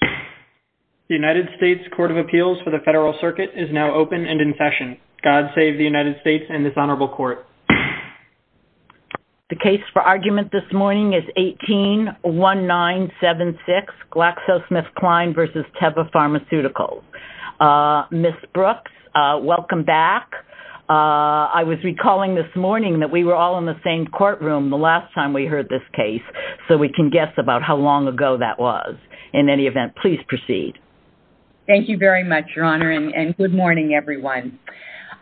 The United States Court of Appeals for the Federal Circuit is now open and in session. God save the United States and this honorable court. The case for argument this morning is 18-1976, GlaxoSmithKline v. Teva Pharmaceuticals. Ms. Brooks, welcome back. I was recalling this morning that we were all in the same courtroom the last time we heard this case, so we can guess about how long ago that was. In any event, please proceed. Thank you very much, Your Honor, and good morning, everyone.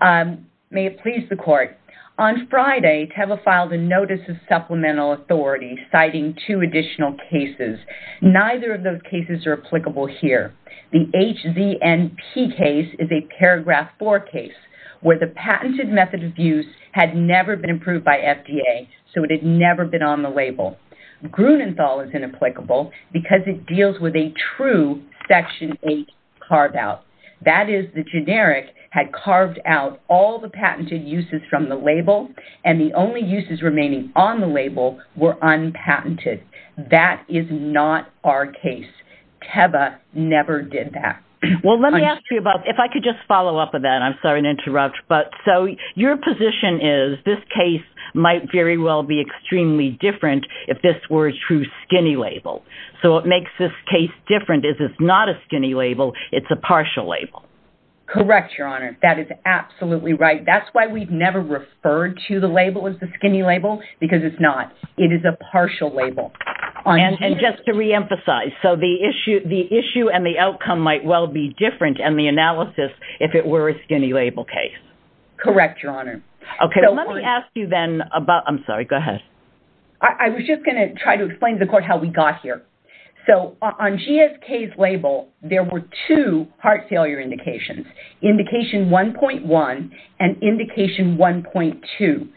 May it please the court. On Friday, Teva filed a notice of supplemental authority citing two additional cases. Neither of those cases are applicable here. The HZNP case is a paragraph 4 case where the patented method of use had never been approved by FDA, so it had never been on the label. Grunenthal is inapplicable because it deals with a true Section 8 carve-out. That is, the generic had carved out all the patented uses from the label, and the only uses remaining on the label were unpatented. That is not our case. Teva never did that. Well, let me ask you about – if I could just follow up on that. I'm sorry to interrupt. So your position is this case might very well be extremely different if this were a true skinny label. So what makes this case different is it's not a skinny label. It's a partial label. Correct, Your Honor. That is absolutely right. That's why we've never referred to the label as the skinny label, because it's not. It is a partial label. And just to reemphasize, so the issue and the outcome might well be different in the analysis if it were a skinny label case. Correct, Your Honor. So let me ask you then about – I'm sorry, go ahead. I was just going to try to explain to the court how we got here. So on GSK's label, there were two heart failure indications, indication 1.1 and indication 1.2.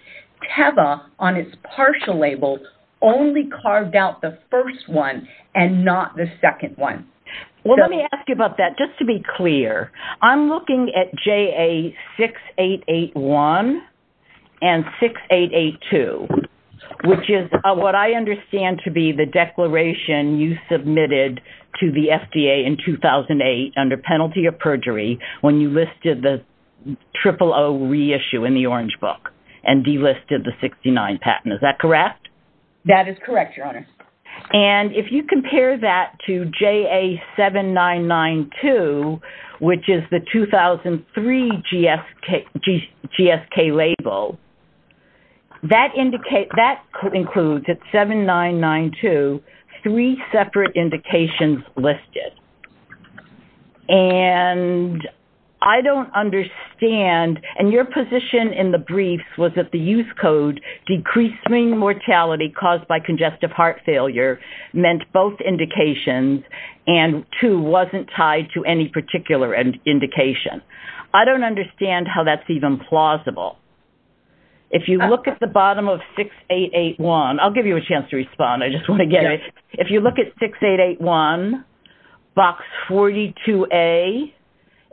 Teva, on its partial label, only carved out the first one and not the second one. Well, let me ask you about that. Just to be clear, I'm looking at JA 6881 and 6882, which is what I understand to be the declaration you submitted to the FDA in 2008 under penalty of perjury when you listed the triple O reissue in the Orange Book and delisted the 69 patent. Is that correct? That is correct, Your Honor. And if you compare that to JA 7992, which is the 2003 GSK label, that includes, at 7992, three separate indications listed. And I don't understand – and your position in the briefs was that the use code, decreasing mortality caused by congestive heart failure, meant both indications and 2 wasn't tied to any particular indication. I don't understand how that's even plausible. If you look at the bottom of 6881 – I'll give you a chance to respond. I just want to get it. If you look at 6881, Box 42A,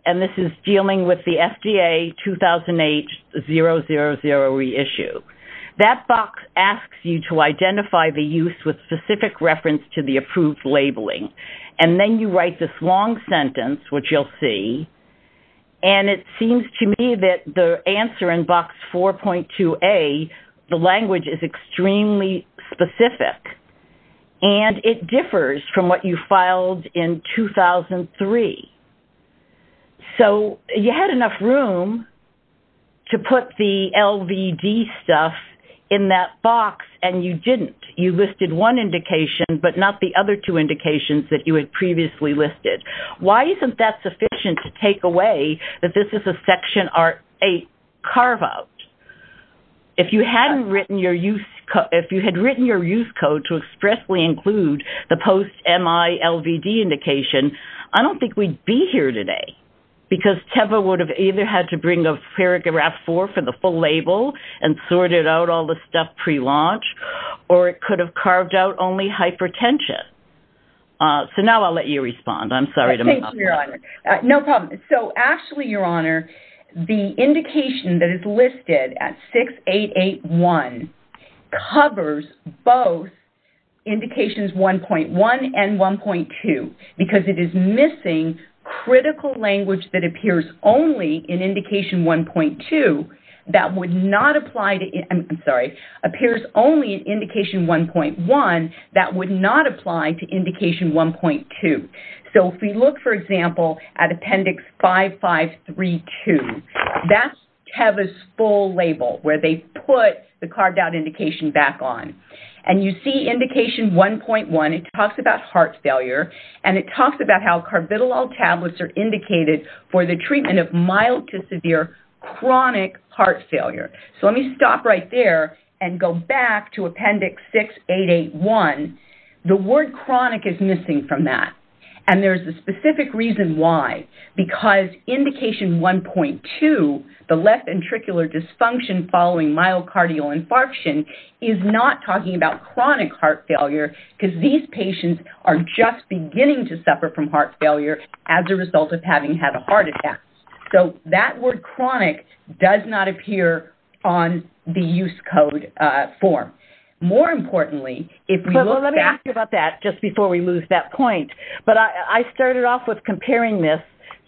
and this is dealing with the FDA 2008 000 reissue, that box asks you to identify the use with specific reference to the approved labeling. And then you write this long sentence, which you'll see, and it seems to me that the answer in Box 4.2A, the language is extremely specific. And it differs from what you filed in 2003. So you had enough room to put the LVD stuff in that box, and you didn't. You listed one indication, but not the other two indications that you had previously listed. Why isn't that sufficient to take away that this is a Section 8 carve-out? If you had written your use code to expressly include the post-MILVD indication, I don't think we'd be here today, because Teva would have either had to bring a paragraph 4 for the full label and sorted out all the stuff pre-launch, or it could have carved out only hypertension. So now I'll let you respond. I'm sorry to interrupt. No problem. So actually, Your Honor, the indication that is listed at 6881 covers both indications 1.1 and 1.2, because it is missing critical language that appears only in indication 1.2 that would not apply to, I'm sorry, appears only in indication 1.1 that would not apply to indication 1.2. So if we look, for example, at Appendix 5532, that's Teva's full label where they put the carved-out indication back on. And you see indication 1.1, it talks about heart failure, and it talks about how carbidolol tablets are indicated for the treatment of mild to severe chronic heart failure. So let me stop right there and go back to Appendix 6881. The word chronic is missing from that. And there's a specific reason why. Because indication 1.2, the left ventricular dysfunction following myocardial infarction, is not talking about chronic heart failure, because these patients are just beginning to suffer from heart failure as a result of having had a heart attack. So that word chronic does not appear on the use code form. More importantly, if we look back... But let me ask you about that just before we lose that point. I started off with comparing this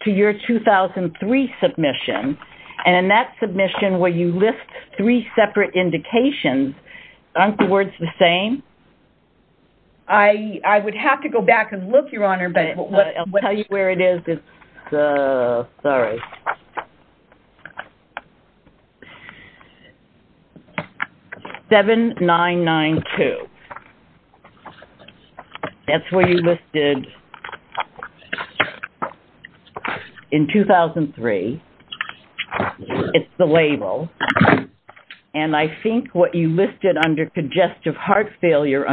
to your 2003 submission. And in that submission, where you list three separate indications, aren't the words the same? I would have to go back and look, Your Honor, but... I'll tell you where it is. Sorry. 7992. That's where you listed... In 2003, it's the label. And I think what you listed under congestive heart failure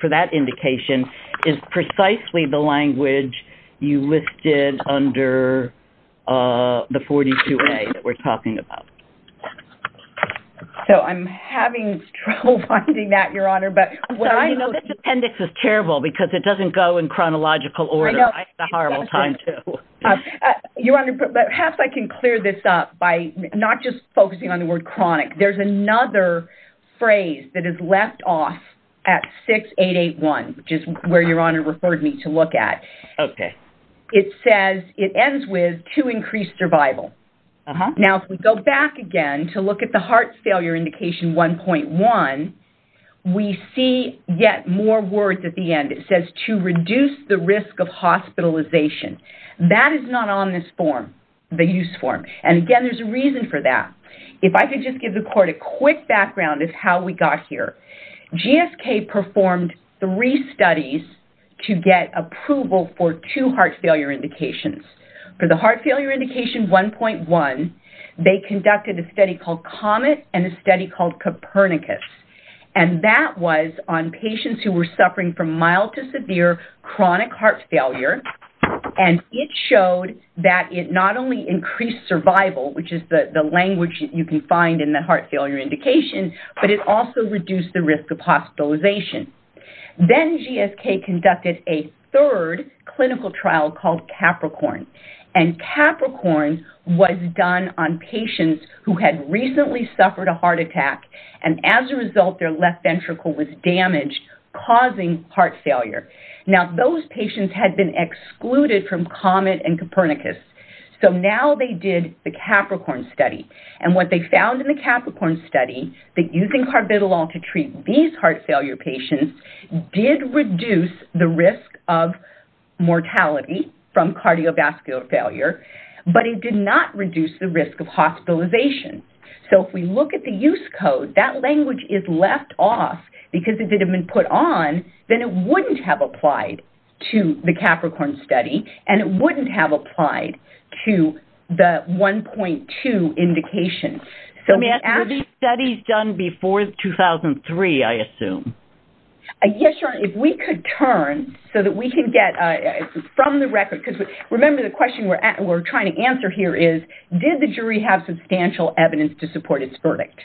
for that indication is precisely the language you listed under the 42A that we're talking about. So I'm having trouble finding that, Your Honor. This appendix is terrible, because it doesn't go in chronological order. I have a horrible time, too. Your Honor, perhaps I can clear this up by not just focusing on the word chronic. There's another phrase that is left off at 6881, which is where Your Honor referred me to look at. Okay. It ends with, to increase survival. Now, if we go back again to look at the heart failure indication 1.1, we see yet more words at the end. It says, to reduce the risk of hospitalization. That is not on this form, the use form. And again, there's a reason for that. If I could just give the Court a quick background of how we got here. GSK performed three studies to get approval for two heart failure indications. For the heart failure indication 1.1, they conducted a study called Comet and a study called Copernicus. And that was on patients who were suffering from mild to severe chronic heart failure. And it showed that it not only increased survival, which is the language you can find in the heart failure indication, but it also reduced the risk of hospitalization. Then GSK conducted a third clinical trial called Capricorn. And Capricorn was done on patients who had recently suffered a heart attack. And as a result, their left ventricle was damaged, causing heart failure. Now, those patients had been excluded from Comet and Copernicus. So now they did the Capricorn study. And what they found in the Capricorn study, that using carbidolol to treat these heart failure patients did reduce the risk of mortality from cardiovascular failure. But it did not reduce the risk of hospitalization. So if we look at the use code, that language is left off. Because if it had been put on, then it wouldn't have applied to the Capricorn study. And it wouldn't have applied to the 1.2 indication. So these studies were done before 2003, I assume. Yes, Your Honor, if we could turn so that we can get from the record, because remember the question we're trying to answer here is, did the jury have substantial evidence to support its verdict?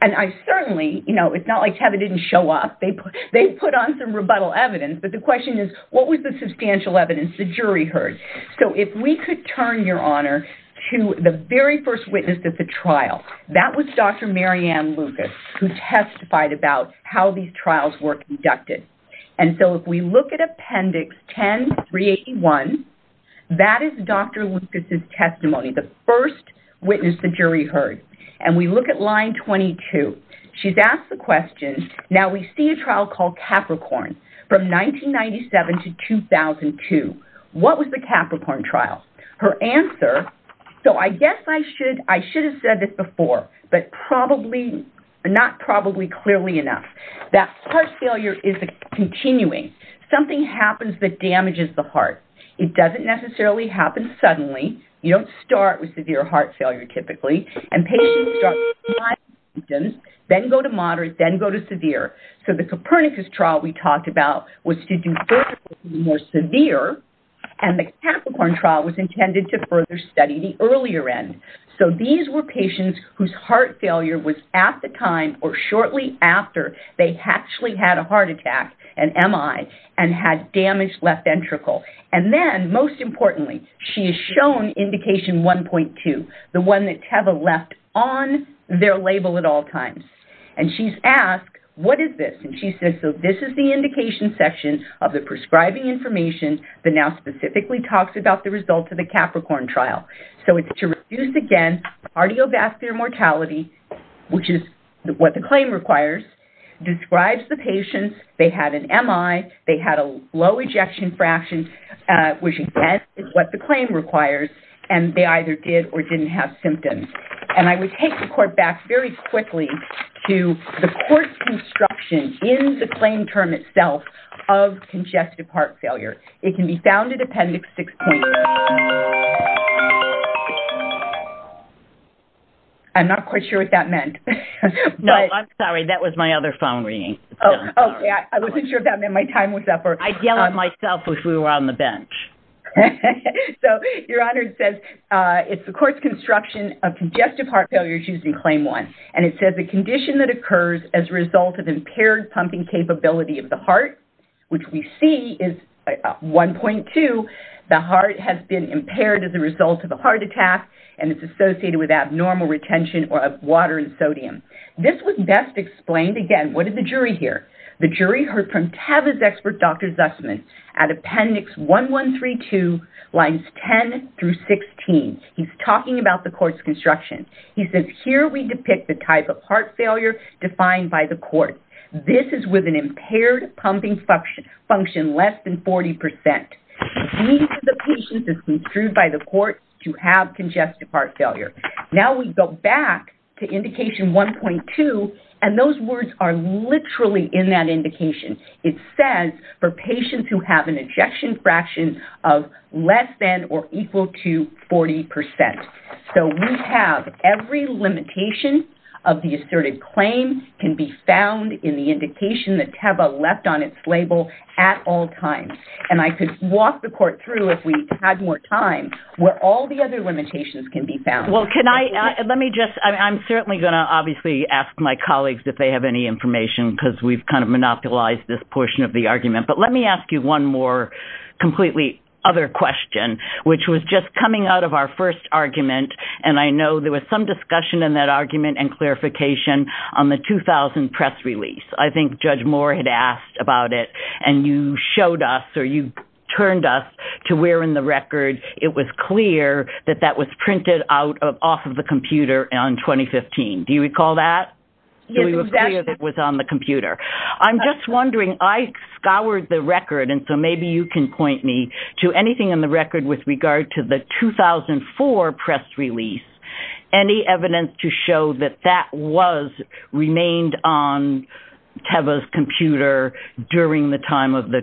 And I certainly, you know, it's not like Kevin didn't show up. They put on some rebuttal evidence. But the question is, what was the substantial evidence the jury heard? So if we could turn, Your Honor, to the very first witness at the trial. That was Dr. Mary Ann Lucas, who testified about how these trials were conducted. And so if we look at Appendix 10381, that is Dr. Lucas' testimony, the first witness the jury heard. And we look at line 22. She's asked the question, now we see a trial called Capricorn from 1997 to 2002. What was the Capricorn trial? Her answer, so I guess I should, I should have said this before, but probably, not probably clearly enough. That heart failure is a continuing. Something happens that damages the heart. It doesn't necessarily happen suddenly. You don't start with severe heart failure typically. And patients start mild symptoms, then go to moderate, then go to severe. So the Copernicus trial we talked about was to do further, more severe. And the Capricorn trial was intended to further study the earlier end. So these were patients whose heart failure was at the time or shortly after they actually had a heart attack, an MI, and had damage left ventricle. And then, most importantly, she is shown Indication 1.2, the one that TEVA left on their label at all times. And she's asked, what is this? And she says, so this is the indication section of the prescribing information that now specifically talks about the results of the Capricorn trial. So it's to reduce, again, cardiovascular mortality, which is what the claim requires. Describes the patients. They had an MI. They had a low ejection fraction, which, again, is what the claim requires. And they either did or didn't have symptoms. And I would take the court back very quickly to the court's construction in the claim term itself of congestive heart failure. And it's found in Appendix 6.3. I'm not quite sure what that meant. No, I'm sorry. That was my other phone ringing. Oh, okay. I wasn't sure if that meant my time was up. I'd yell at myself if we were on the bench. So, Your Honor, it says it's the court's construction of congestive heart failure using Claim 1. And it says the condition that occurs as a result of impaired pumping capability of the heart, which we see is 1.2. The heart has been impaired as a result of a heart attack and it's associated with abnormal retention of water and sodium. This was best explained, again, what did the jury hear? The jury heard from TAVA's expert, Dr. Zussman, at Appendix 1132, lines 10 through 16. He's talking about the court's construction. He says, here we depict the type of heart failure defined by the court. This is with an impaired pumping function less than 40%. The need for the patient is construed by the court to have congestive heart failure. Now we go back to Indication 1.2 and those words are literally in that indication. It says for patients who have an ejection fraction of less than or equal to 40%. So we have every limitation of the asserted claim can be found in the indication that TAVA left on its label at all times. And I could walk the court through, if we had more time, where all the other limitations can be found. Well, can I, let me just, I'm certainly going to obviously ask my colleagues if they have any information because we've kind of monopolized this portion of the argument. But let me ask you one more completely other question, which was just coming out of our first argument and I know there was some discussion in that argument and clarification on the 2000 press release. I think Judge Moore had asked about it and you showed us or you turned us to where in the record it was clear that that was printed off of the computer on 2015. Do you recall that? It was on the computer. I'm just wondering, I scoured the record and so maybe you can point me to anything in the record with regard to the 2004 press release. Any evidence to show that that was remained on TAVA's computer during the time of the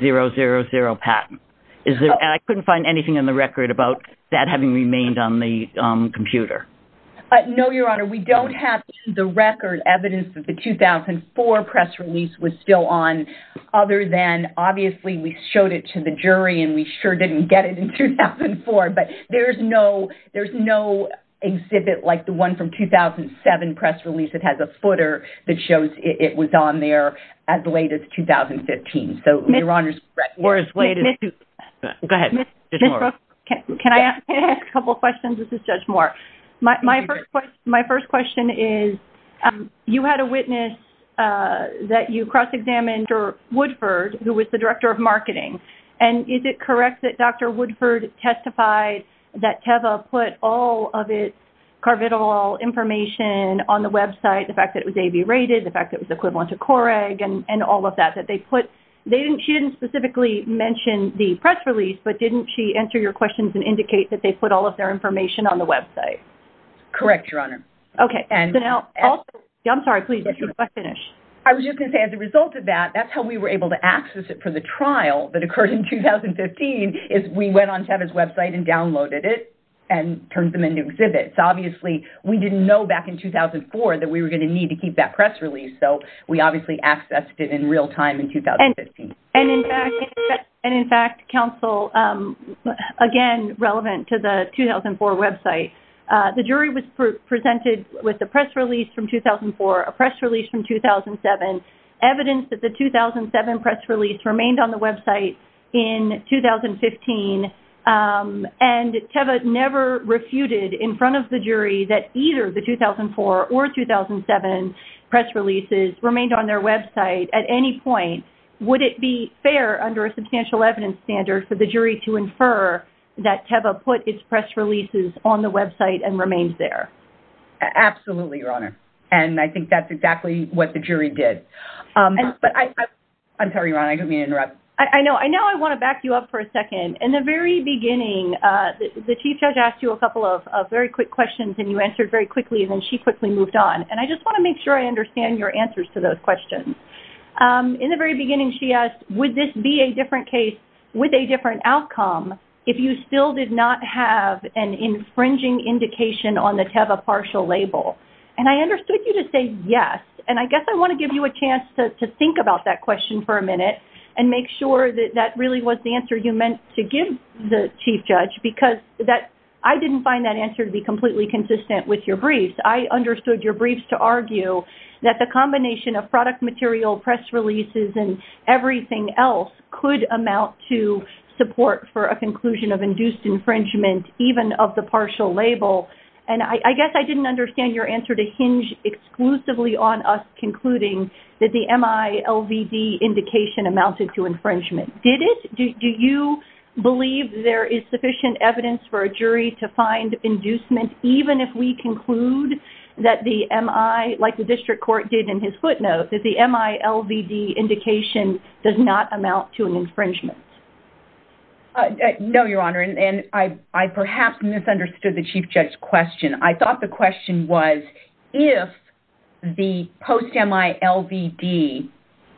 000 patent? And I couldn't find anything in the record about that having remained on the computer. No, Your Honor, we don't have the record evidence that the 2004 press release was still on other than obviously we showed it to the jury and we sure didn't get it in 2004. But there's no exhibit like the one from 2007 press release that has a footer that shows it was on there as late as 2015. So, Your Honor, we're as late as... Go ahead, Judge Moore. Can I ask a couple of questions? This is Judge Moore. My first question is you had a witness that you cross-examined Woodford, who was the Director of Marketing. And is it correct that Dr. Woodford testified that TAVA put all of its carvital information on the website, the fact that it was AV-rated, the fact that it was equivalent to Coreg and all of that, that they put... She didn't specifically mention the press release, but didn't she answer your questions and indicate that they put all of their information on the website? Correct, Your Honor. Okay, so now... I'm sorry, please, let's finish. I was just going to say as a result of that, that's how we were able to access it for the trial that occurred in 2015, is we went on TAVA's website and downloaded it and turned them into exhibits. Obviously, we didn't know back in 2004 that we were going to need to keep that press release, so we obviously accessed it in real time in 2015. And in fact, counsel, again, relevant to the 2004 website, the jury was presented with the press release from 2004, a press release from 2007, evidence that the 2007 press release remained on the website in 2015, and TAVA never refuted in front of the jury that either the 2004 or 2007 press releases remained on their website at any point. Would it be fair under a substantial evidence standard for the jury to infer that TAVA put its press releases on the website and remained there? Absolutely, Your Honor. And I think that's exactly what the jury did. I'm sorry, Your Honor. I didn't mean to interrupt. I know I want to back you up for a second. In the very beginning, the Chief Judge asked you a couple of very quick questions and you answered very quickly, and then she quickly moved on, and I just want to make sure I understand your answers to those questions. In the very beginning, she asked, would this be a different case with a different outcome if you still did not have an infringing indication on the TAVA partial label? And I understood you to say yes, and I guess I want to give you a chance to think about that question for a minute and make sure that that really was the answer you meant to give the Chief Judge because I didn't find that answer to be completely consistent with your briefs. I understood your briefs to argue that the combination of product material, press releases, and everything else could amount to support for a conclusion of induced infringement even of the partial label and I guess I didn't understand your answer to hinge exclusively on us concluding that the MILVD indication amounted to infringement. Did it? Do you believe there is sufficient evidence for a jury to find inducement even if we conclude that the MI, like the District Court did in his footnote, that the MILVD indication does not amount to an infringement? No, Your Honor, and I perhaps misunderstood the Chief Judge's question. I thought the question was if the post-MILVD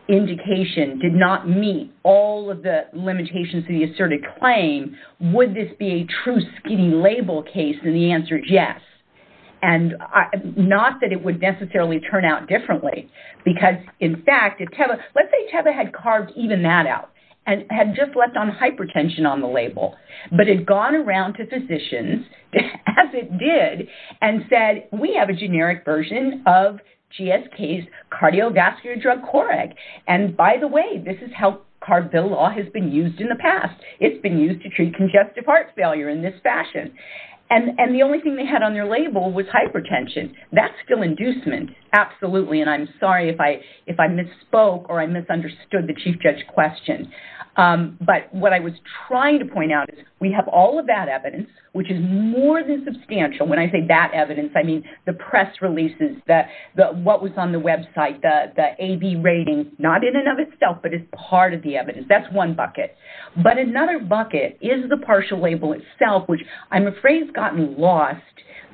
indication did not meet all of the limitations of the asserted claim, would this be a true skinny label case? And the answer is yes, and not that it would necessarily turn out differently because, in fact, if Teva, let's say Teva had carved even that out and had just left on hypertension on the label but had gone around to physicians as it did and said, we have a generic version of GSK's cardiovascular drug Coreg, and by the way, this is how carved bill law has been used in the past. It's been used to treat congestive heart failure in this fashion, and the only thing they had on their label was hypertension. That's still inducement, absolutely, and I'm sorry if I misspoke or I misunderstood the Chief Judge's question, but what I was trying to point out is that we have all of that evidence, which is more than substantial. When I say that evidence, I mean the press releases, what was on the website, the AB rating, not in and of itself, but it's part of the evidence. That's one bucket, but another bucket is the partial label itself, which I'm afraid has gotten lost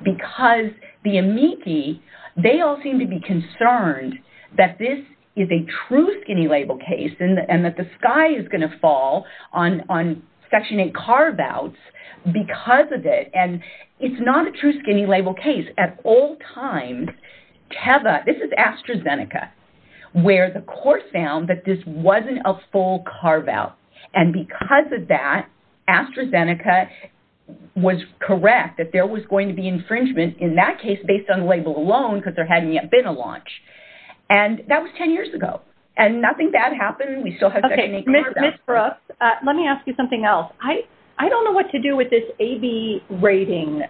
because the amici, they all seem to be concerned that this is a true skinny label case and that the sky is going to fall because of the carve-outs because of it, and it's not a true skinny label case. At all times, this is AstraZeneca, where the court found that this wasn't a full carve-out, and because of that, AstraZeneca was correct that there was going to be infringement in that case based on the label alone because there hadn't yet been a launch, and that was 10 years ago, and nothing bad happened. We still have that unique carve-out. I don't know what to do with this AB rating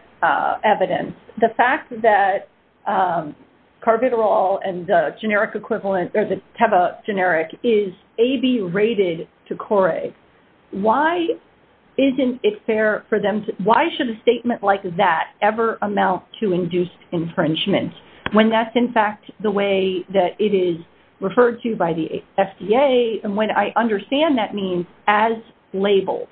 evidence. The fact that Carviderol and the generic equivalent, or the Teva generic, is AB rated to Coray. Why isn't it fair for them to, why should a statement like that ever amount to induced infringement when that's in fact the way that it is referred to by the FDA and when I understand that means as labeled?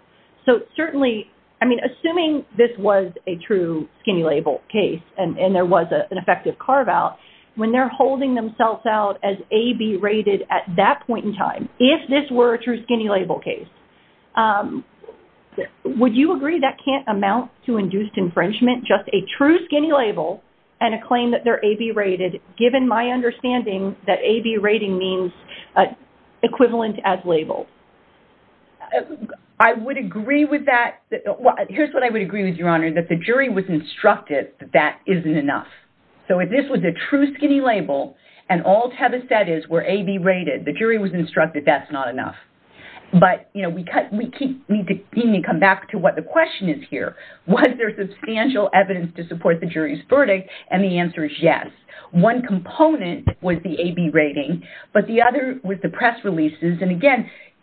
So certainly, I mean, assuming this was a true skinny label case and there was an effective carve-out, when they're holding themselves out as AB rated at that point in time, if this were a true skinny label case, would you agree that can't amount to induced infringement, just a true skinny label and a claim that they're AB rated given my understanding that AB rating means equivalent as labeled? I would agree with that. Here's what I would agree with, Your Honor, that the jury was instructed that that isn't enough. So if this was a true skinny label and all Teva said is we're AB rated, the jury was instructed that's not enough. But we need to come back to what the question is here. Was there substantial evidence to support the jury's verdict? And the answer is yes. One component was the AB rating, but the other was the press releases and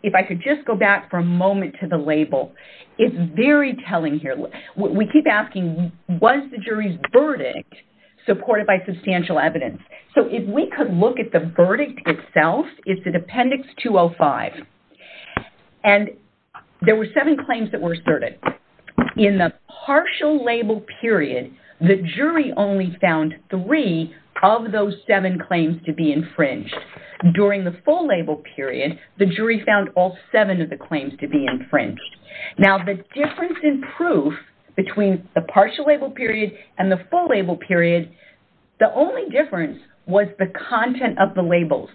if I could just go back for a moment to the label, it's very telling here. We keep asking, was the jury's verdict supported by substantial evidence? So if we could look at the verdict itself, it's in Appendix 205 and there were seven claims that were asserted. In the partial label period, the jury only found three of those seven claims to be infringed. During the full label period, there were all seven of the claims to be infringed. Now the difference in proof between the partial label period and the full label period, the only difference was the content of the labels.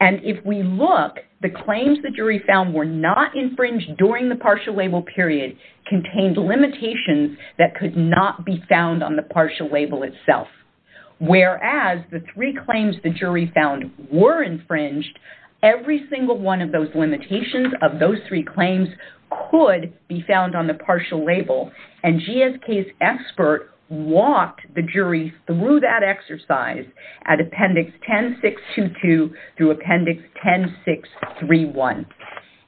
And if we look, the claims the jury found were not infringed during the partial label period contained limitations that could not be found on the partial label itself. Whereas the three claims and the limitations of those three claims could be found on the partial label. And GSK's expert walked the jury through that exercise at Appendix 10.622 through Appendix 10.631.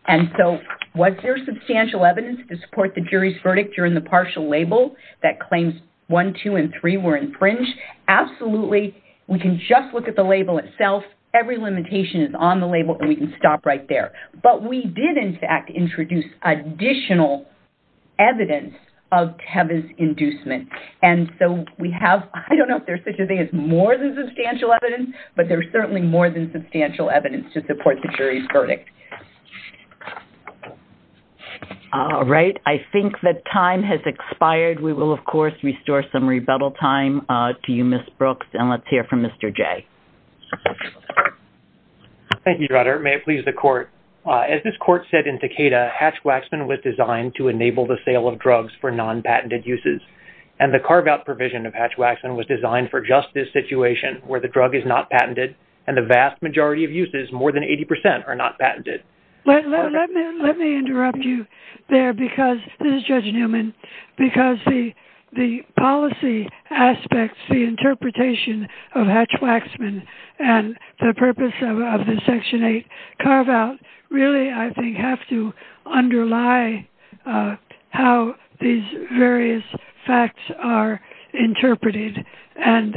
And so, was there substantial evidence to support the jury's verdict during the partial label that claims 1, 2, and 3 were infringed? Absolutely. We can just look at the label itself. But we did, in fact, introduce additional evidence of Tevas inducement. And so we have, I don't know if there's such a thing as more than substantial evidence, but there's certainly more than substantial evidence to support the jury's verdict. All right. I think that time has expired. We will, of course, restore some rebuttal time to you, Ms. Brooks. And let's hear from Mr. Jay. Thank you, Rutter. May it please the Court. As this Court said in Takeda, Hatch-Waxman was designed to enable the sale of drugs for non-patented uses. And the carve-out provision of Hatch-Waxman was designed for just this situation where the drug is not patented and the vast majority of uses, more than 80 percent, are not patented. Let me interrupt you there because, this is Judge Newman, because the policy aspects, the interpretation of Hatch-Waxman and the purpose of the Section 8 carve-out really, I think, have to underlie how these various facts are interpreted. And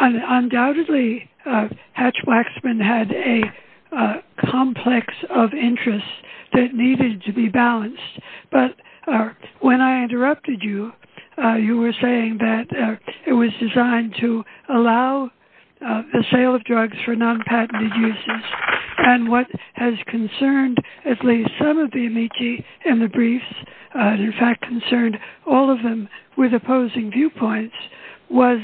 undoubtedly, Hatch-Waxman had a complex of interests that needed to be balanced. But when I interrupted you, you were saying that it was designed to allow the sale of drugs for non-patented uses. And what has concerned at least some of the amici in the briefs, in fact concerned all of them with opposing viewpoints, was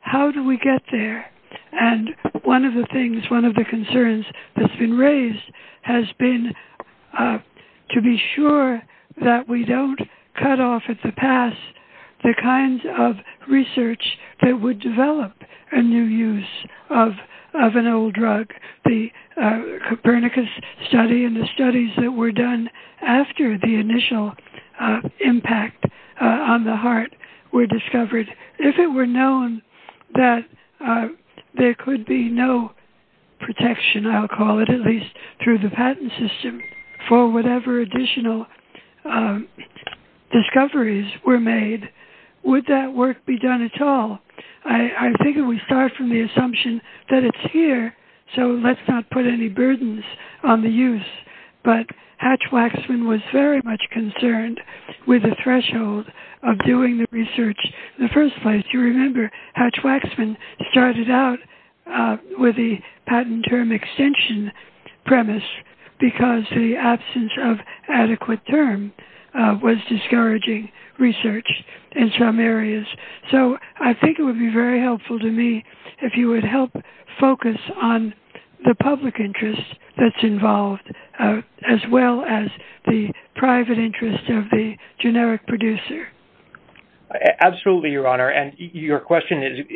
how do we get there? And one of the things, one of the concerns that's been raised has been to be sure that we don't cut off at the pass the kinds of research that would develop a new use of an old drug. The Copernicus study and the studies that were done after the initial impact on the heart were discovered. If it were known that there could be no protection, I'll call it at least, through the patent system for whatever additional discoveries were made, would that work be done at all? I figure we start from the assumption that it's here, so let's not put any burdens on the use. But Hatch-Waxman was very much concerned with the threshold of doing the research in the first place. You remember Hatch-Waxman started out with the patent term extension premise because the absence of adequate term was discouraging research in some areas. So I think it would be very helpful to me if you would help focus on the public interest that's involved as well as the private interest of the generic producer. Absolutely, Your Honor. And your question is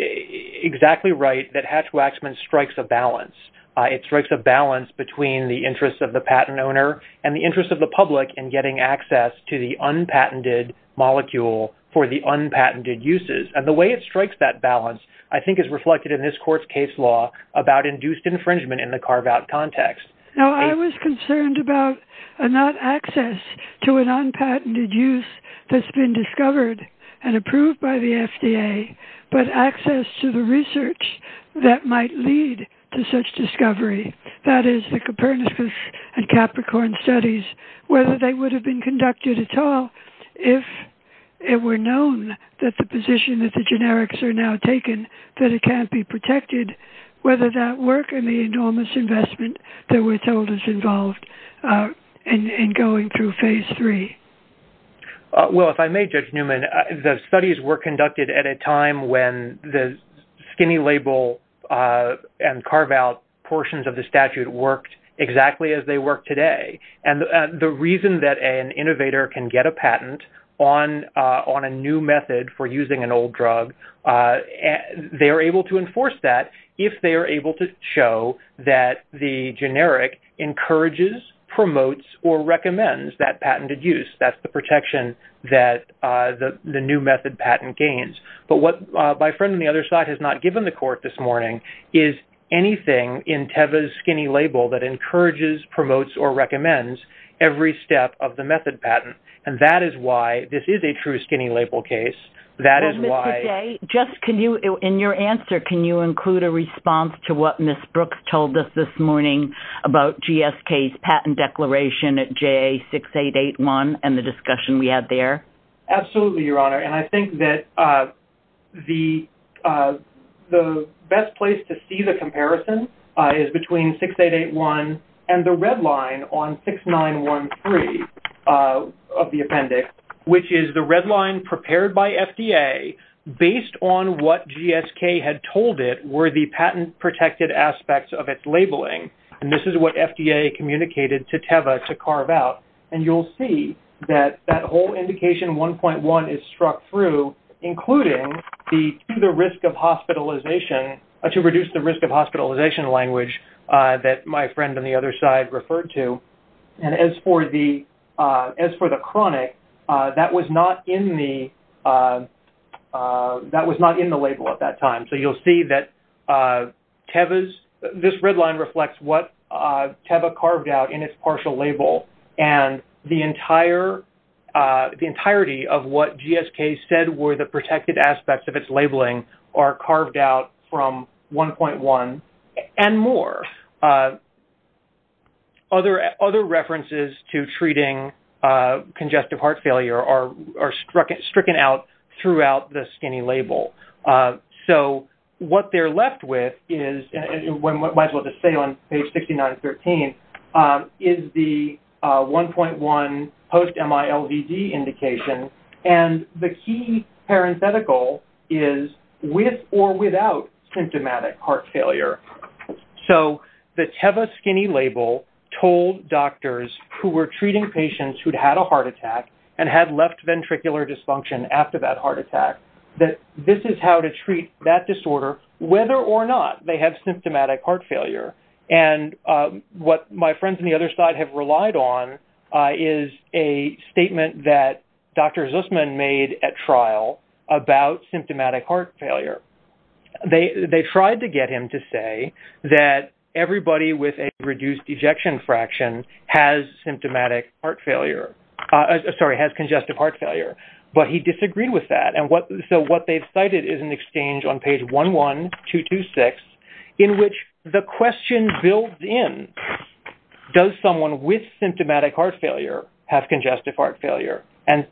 exactly right that Hatch-Waxman strikes a balance. It strikes a balance between the interest of the patent owner and the interest of the public in getting access to the unpatented molecule for the unpatented uses. And the way it strikes that balance I think is reflected in this court's case law about induced infringement in the carve-out context. No, I was concerned about not access to an unpatented use that's been discovered and approved by the FDA, but access to the research that might lead to such discovery. And Capricorn studies, whether they would have been conducted at all if it were known that the position that the generics are now taken, that it can't be protected, whether that work in the enormous investment that we're told is involved in going through phase three. Well, if I may, Judge Newman, the studies were conducted at a time when the skinny label and carve-out portions of the statute worked exactly as they work today. And the reason that an innovator can get a patent on a new method for using an old drug, they are able to enforce that if they are able to show that the generic encourages, promotes, or recommends that patented use. That's the protection that the new method patent gains. But what my friend on the other side has not given the court this morning is anything in TEVA's skinny label that encourages, promotes, or recommends every step of the method patent. And that is why this is a true skinny label case. That is why... Well, Mr. Jay, in your answer, can you include a response to what Ms. Brooks told us this morning about GSK's patent declaration at JA-6881 and the discussion we had there? Absolutely, Your Honor. And I think that the best place to see the comparison is between 6881 and the red line on 6913 of the appendix, which is the red line prepared by FDA based on what GSK had told it were the patent-protected aspects of its labeling. And this is what FDA communicated to TEVA to carve-out. And you'll see that that whole indication, 1.1, is struck through, including the risk of hospitalization, to reduce the risk of hospitalization language that my friend on the other side referred to. And as for the chronic, that was not in the label at that time. So you'll see that TEVA's... This red line reflects what TEVA carved out in its partial label. And the entire majority of what GSK said were the protected aspects of its labeling are carved out from 1.1 and more. Other references to treating congestive heart failure are stricken out throughout the skinny label. So what they're left with is, and I might as well just say on page 6913, is the 1.1 post-MILVD indication and the key parenthetical is with or without symptomatic heart failure. So the TEVA skinny label told doctors who were treating patients who'd had a heart attack and had left ventricular dysfunction after that heart attack that this is how to treat that disorder whether or not they have symptomatic heart failure. And what my friends on the other side have relied on is a statement that Dr. Zusman made at trial about symptomatic heart failure. They tried to get him to say that everybody with a reduced ejection fraction has symptomatic heart failure. Sorry, has congestive heart failure. But he disagreed with that. So what they've cited is an exchange on page 11226 in which the question builds in, does someone with symptomatic heart failure have congestive heart failure? And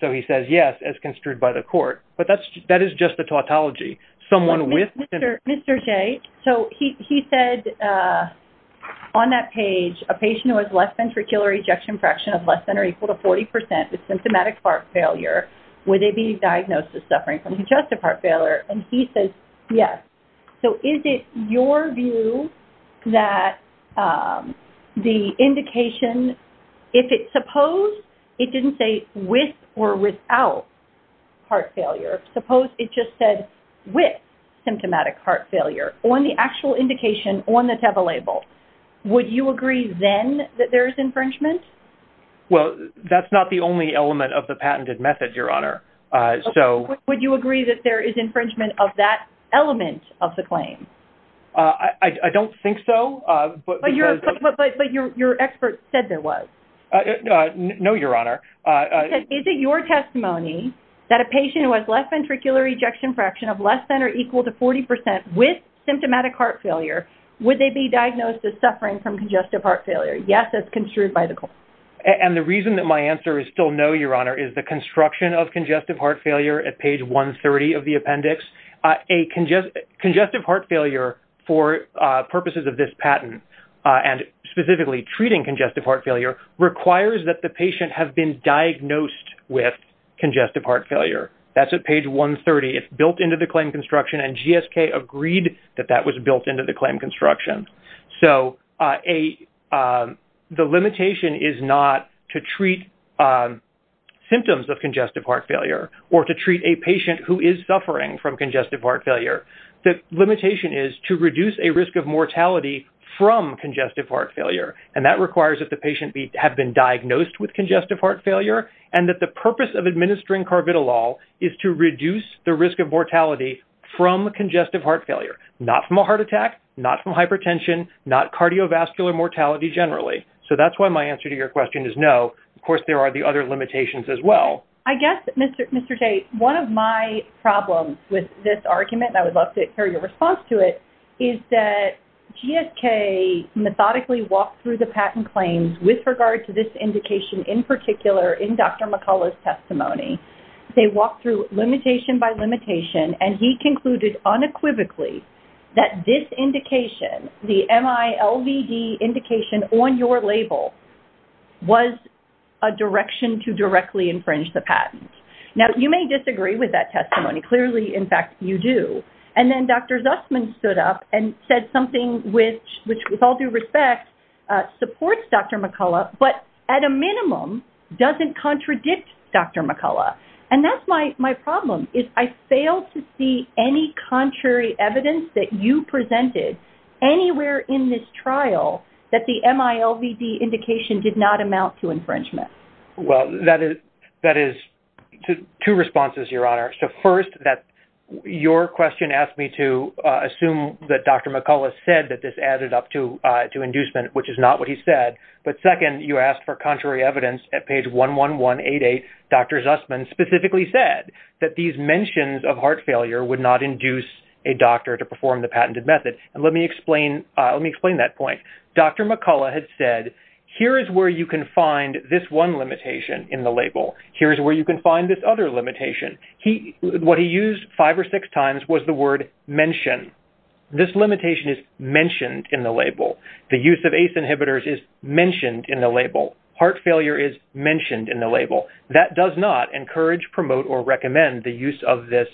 so he says yes, as construed by the court. But that is just the tautology. Someone with symptomatic heart failure. Mr. Jay, so he said on that page, a patient who has less ventricular ejection fraction of less than or equal to 40% with symptomatic heart failure, would they be diagnosed as suffering from congestive heart failure? And he says yes. So is it your view that the indication, if it's supposed, it didn't say with or without heart failure. Suppose it just said with symptomatic heart failure on the actual indication on the TEVA label. Would you agree then that there is infringement? Well, that's not the only element of the patented method, Your Honor. Would you agree that there is infringement of that element of the claim? I don't think so. But your expert said there was. No, Your Honor. Is it your testimony that a patient who has less ventricular ejection fraction of less than or equal to 40% with symptomatic heart failure, would they be diagnosed as suffering from congestive heart failure? Yes, as construed by the court. And the reason that my answer is still no, Your Honor, is the construction of congestive heart failure at page 130 of the appendix. A congestive heart failure for purposes of this patent and specifically treating congestive heart failure requires that the patient have been diagnosed with congestive heart failure. That's at page 130. It's built into the claim construction, and GSK agreed that that was built into the claim construction. So the limitation is not to treat symptoms of congestive heart failure or to treat a patient who is suffering from congestive heart failure. The limitation is to reduce a risk of mortality from congestive heart failure. And that requires that the patient have been diagnosed with congestive heart failure and that the purpose of administering carbidolol is to reduce the risk of mortality from congestive heart failure, not from a heart attack, not from hypertension, not cardiovascular mortality generally. So that's why my answer to your question is no. Of course, there are the other limitations as well. I guess, Mr. Tate, one of my problems with this argument, and I would love to hear your response to it, is that GSK methodically walked through the patent claims with regard to this indication in particular in Dr. McCullough's testimony. They walked through limitation by limitation, and he concluded unequivocally that this indication, the MILVD indication on your label, was a direction to directly infringe the patent. Now, you may disagree with that testimony. Clearly, in fact, you do. And then Dr. Zussman stood up and said something which, with all due respect, supports Dr. McCullough, but at a minimum doesn't contradict Dr. McCullough. And that's my problem, is I fail to see any contrary evidence that you presented anywhere in this trial that the MILVD indication did not amount to infringement. Well, that is two responses, Your Honor. So first, your question asked me to assume that Dr. McCullough said that this added up to inducement, which is what he said. But second, you asked for contrary evidence at page 11188. Dr. Zussman specifically said that these mentions of heart failure would not induce a doctor to perform the patented method. And let me explain that point. Dr. McCullough had said, here is where you can find this one limitation in the label. Here is where you can find this other limitation. What he used five or six times was the word mention. This limitation is mentioned in the label. Heart failure is mentioned in the label. That does not encourage, promote, or recommend the use of this,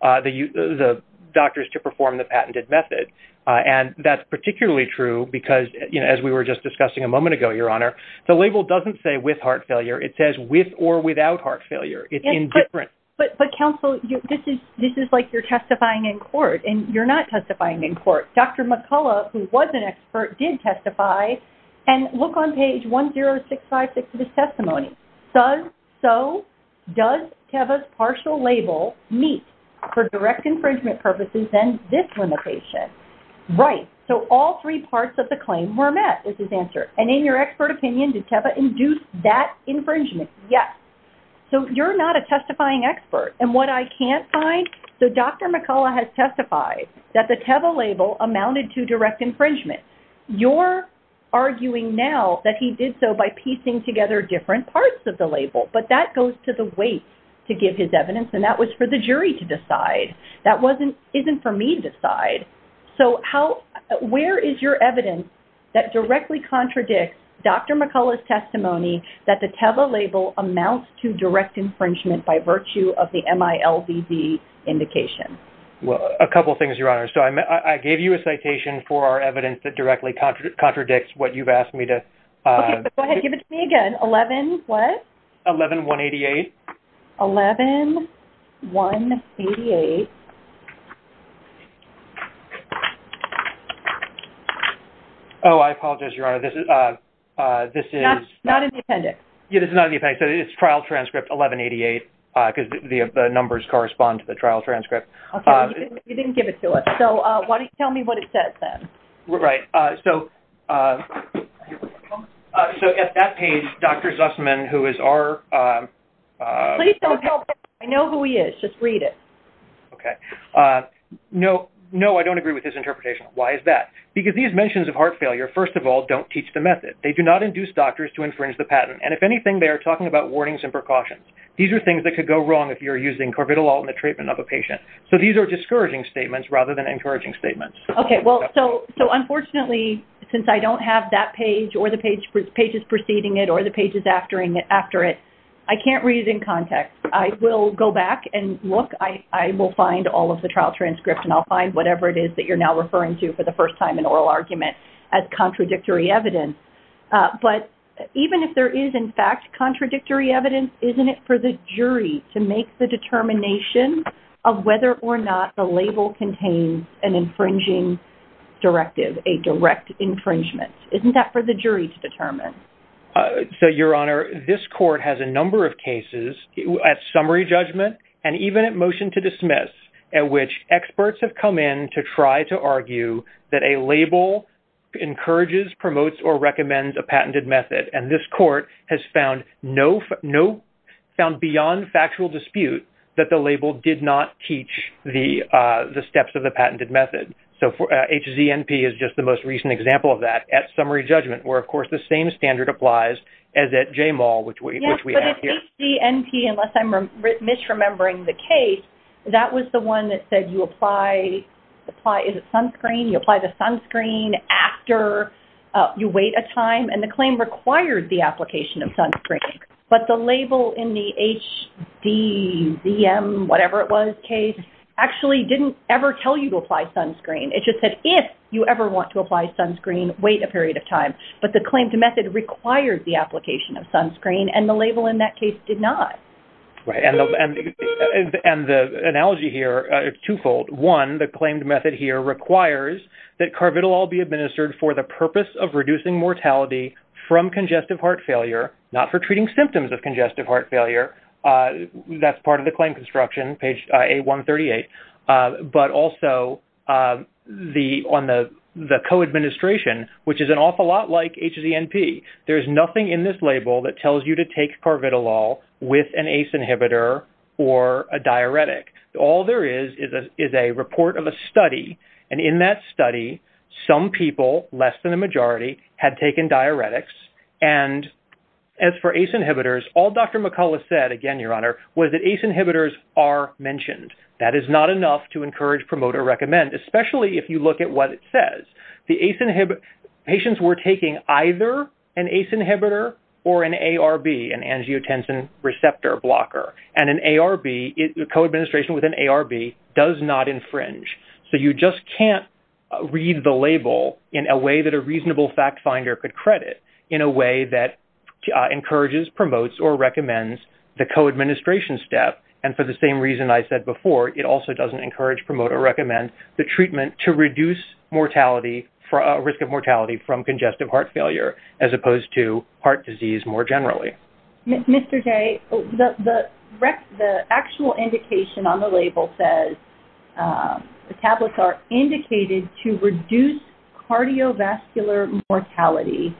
the doctors to perform the patented method. And that's particularly true because as we were just discussing a moment ago, Your Honor, the label doesn't say with heart failure. It says with or without heart failure. It's indifferent. But counsel, this is like you're testifying in court, and you're not testifying in court. Dr. McCullough, who was an expert, did testify. And look on page 10656 of his testimony. Does, so, does Teva's partial label meet for direct infringement purposes then this limitation? Right. So all three parts of the claim were met is his answer. And in your expert opinion, did Teva induce that infringement? Yes. So you're not a testifying expert. And what I can't find, so Dr. McCullough has testified that the Teva label amounted to direct infringement. You're arguing now that he did so by piecing together different parts of the label. But that goes to the weight to give his evidence. And that was for the jury to decide. That wasn't, isn't for me to decide. So how, where is your evidence that directly contradicts Dr. McCullough's testimony that the Teva label amounts to direct infringement by virtue of the MILVV indication? Well, a couple of things, Your Honor. So I gave you a citation for our evidence that directly contradicts what you've asked me to. Okay, but go ahead, give it to me again. 11, what? 11188. 11188. Oh, I apologize, Your Honor. This is, this is. Not in the appendix. Yeah, this is not in the appendix. It's trial transcript 1188 because the numbers correspond to the trial transcript. Okay, you didn't give it to us. So why don't you tell me what it says then. Right, so. So at that page, Dr. Zussman, who is our. Please don't tell him. I know who he is, just read it. Okay, no, no, I don't agree with his interpretation. Why is that? Because these mentions of heart failure, first of all, don't teach the method. They do not induce doctors to infringe the patent. And if anything, they are talking about warnings and precautions. These are things that could go wrong if you're using Corvitolol in the treatment of a patient. So these are discouraging statements rather than encouraging statements. Okay, well, so unfortunately, since I don't have that page or the pages preceding it or the pages after it, I can't read it in context. I will go back and look. I will find all of the trial transcript and I'll find whatever it is that you're now referring to for the first time in oral argument as contradictory evidence. But even if there is in fact contradictory evidence, isn't it for the jury to make the determination of whether or not the label contains an infringing directive, a direct infringement? Isn't that for the jury to determine? So, Your Honor, this court has a number of cases at summary judgment and even at motion to dismiss at which experts have come in to try to argue that a label encourages, promotes, or recommends a patented method. And this court has found beyond factual dispute that the label did not teach the steps of the patented method. So HZNP is just the most recent example of that at summary judgment where, of course, the same standard applies as at JMAL, which we have here. Yes, but it's HZNP, unless I'm misremembering the case, that was the one that said you apply, is it sunscreen? You apply the sunscreen after you wait a time. And the claim required the application of sunscreen. But the label in the HZM, whatever it was, case, actually didn't ever tell you to apply sunscreen. It just said if you ever want to apply sunscreen, wait a period of time. But the claimed method required the application of sunscreen, and the label in that case did not. Right, and the analogy here is twofold. One, the claimed method here requires that Carvitolol be administered for the purpose of reducing mortality from congestive heart failure, not for treating symptoms of congestive heart failure. That's part of the claim construction, page A138. But also on the co-administration, which is an awful lot like HZNP, there's nothing in this label that tells you to take Carvitolol with an ACE inhibitor or a diuretic. All there is is a report of a study, and in that study, some people, less than the majority, had taken diuretics, and as for ACE inhibitors, all Dr. McCullough said, again, Your Honor, was that ACE inhibitors are mentioned. That is not enough to encourage, promote, or recommend, especially if you look at what it says. The ACE inhibitors, patients were taking either an ACE inhibitor or an ARB, an angiotensin receptor blocker. And an ARB, the co-administration with an ARB does not infringe. So you just can't read the label in a way that a reasonable fact finder could credit, in a way that encourages, promotes, or recommends the co-administration step. And for the same reason I said before, it also doesn't encourage, promote, or recommend the treatment to reduce mortality, risk of mortality from congestive heart failure, as opposed to heart disease more generally. Mr. J., the actual indication on the label says, the tablets are indicated to reduce cardiovascular mortality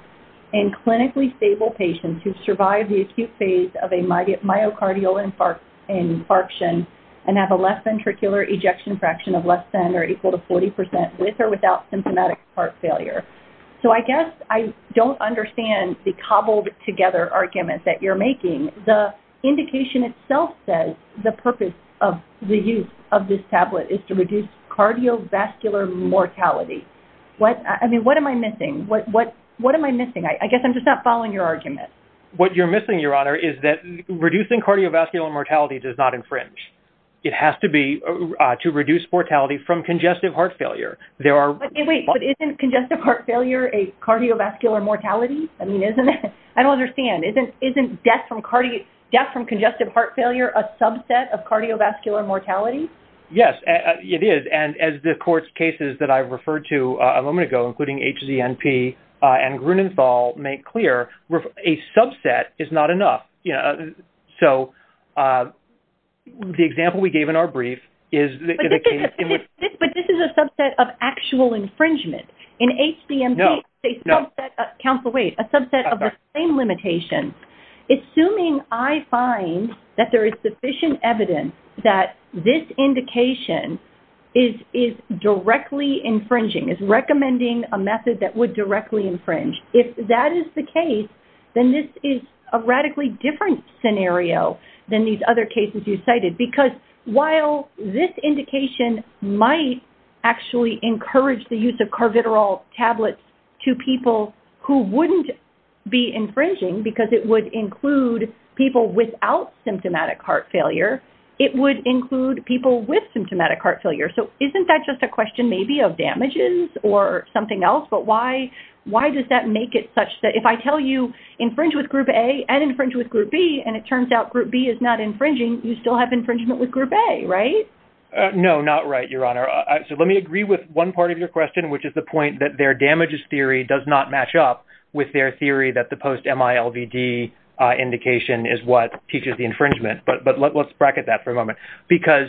in clinically stable patients who survive the acute phase of a myocardial infarction and have a left ventricular ejection fraction of less than or equal to 40% with or without symptomatic heart failure. So I guess I don't understand the cobbled together argument that you're making. The indication itself says the purpose of the use of this tablet is to reduce cardiovascular mortality. I mean, what am I missing? What am I missing? I guess I'm just not following your argument. What you're missing, Your Honor, is that reducing cardiovascular mortality does not infringe. It has to be to reduce mortality from congestive heart failure. Wait, but isn't congestive heart failure a cardiovascular mortality? I mean, isn't it? I don't understand. Isn't death from congestive heart failure a subset of cardiovascular mortality? Yes, it is. And as the court's cases that I referred to a moment ago, including HZNP and Grunenthal make clear, a subset is not enough. So the example we gave in our brief is- But this is a subset of actual infringement. In HZNP- No, no. A subset of the same limitation. Assuming I find that there is sufficient evidence that this indication is directly infringing, is recommending a method that would directly infringe, if that is the case, then this is a radically different scenario than these other cases you cited. Because while this indication might actually encourage the use of carvitral tablets to people who wouldn't be infringing, because it would include people without symptomatic heart failure, it would include people with symptomatic heart failure. So isn't that just a question, maybe, of damages or something else? But why does that make it such that- If I tell you, infringe with group A and infringe with group B, and it turns out group B is not infringing, you still have infringement with group A, right? No, not right, Your Honor. So let me agree with one part of your question, which is the point that their damages theory does not match up with their theory that the post-MILVD indication is what teaches the infringement. But let's bracket that for a moment. Because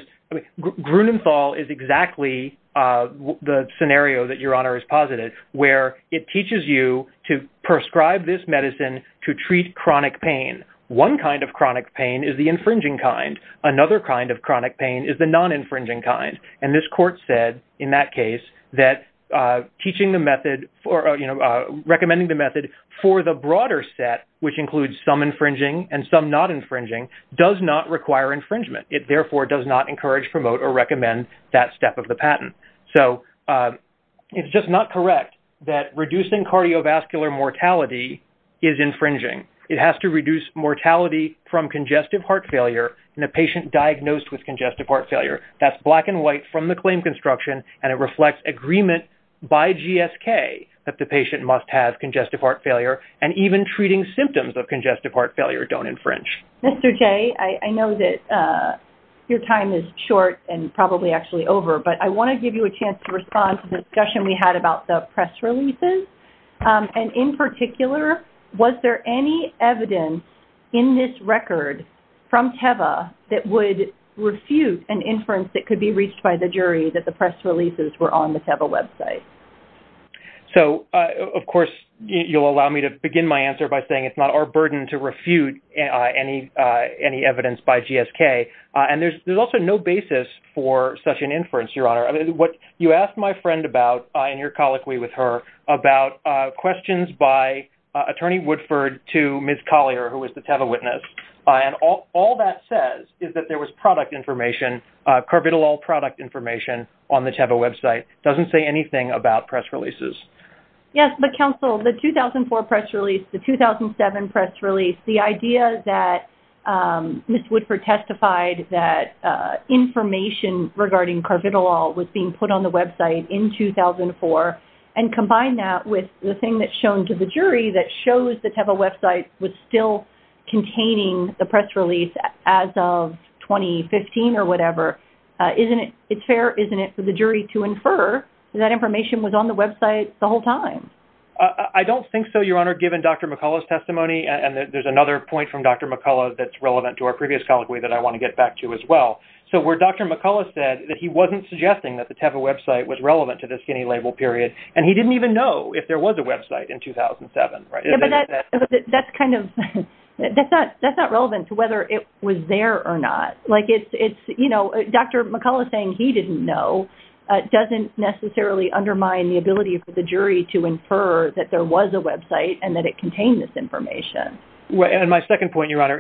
Grunenthal is exactly the scenario that Your Honor has posited, where it teaches you to prescribe this medicine to treat chronic pain. One kind of chronic pain is the infringing kind. Another kind of chronic pain is the non-infringing kind. And this court said, in that case, that teaching the method, or recommending the method, for the broader set, which includes some infringing and some not infringing, does not require infringement. It therefore does not encourage, promote, or recommend that step of the patent. So it's just not correct that reducing cardiovascular mortality is infringing. It has to reduce mortality from congestive heart failure that's black and white from the claim construction. And it reflects agreement by GSK that the patient must have congestive heart failure. And even treating symptoms of congestive heart failure don't infringe. Mr. Jay, I know that your time is short and probably actually over. But I want to give you a chance to respond to the discussion we had about the press releases. And in particular, was there any evidence in this record from TEVA that would refute an inference that could be reached by the jury that the press releases were on the TEVA website? So, of course, you'll allow me to begin my answer by saying it's not our burden to refute any evidence by GSK. And there's also no basis for such an inference, Your Honor. You asked my friend about, and you're colloquy with her, about questions by Attorney Woodford to Ms. Collier, who was the TEVA witness. And what she says is that there was product information, Carvitolol product information, on the TEVA website. It doesn't say anything about press releases. Yes, but counsel, the 2004 press release, the 2007 press release, the idea that Ms. Woodford testified that information regarding Carvitolol was being put on the website in 2004, and combine that with the thing that's shown to the jury that shows the TEVA website was still containing the press release as of 2015 or whatever, it's fair, isn't it, for the jury to infer that information was on the website the whole time? I don't think so, Your Honor, given Dr. McCullough's testimony. And there's another point from Dr. McCullough that's relevant to our previous colloquy that I want to get back to as well. So where Dr. McCullough said that he wasn't suggesting that the TEVA website was there, that's not relevant to whether it was there or not. Dr. McCullough saying he didn't know doesn't necessarily undermine the ability for the jury to infer that there was a website and that it contained this information. And my second point, Your Honor,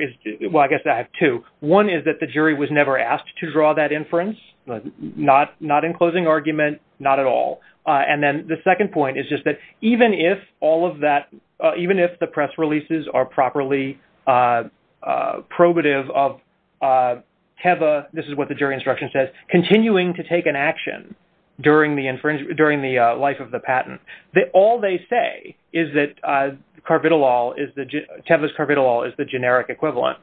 well, I guess I have two. One is that the jury was never asked to draw that inference, not in closing argument, not at all. And then the second point is just that even if all of that, even if the press releases are properly probative of TEVA, this is what the jury instruction says, continuing to take an action during the life of the patent, all they say is that CARBIDOLOL, TEVA's CARBIDOLOL is the generic equivalent.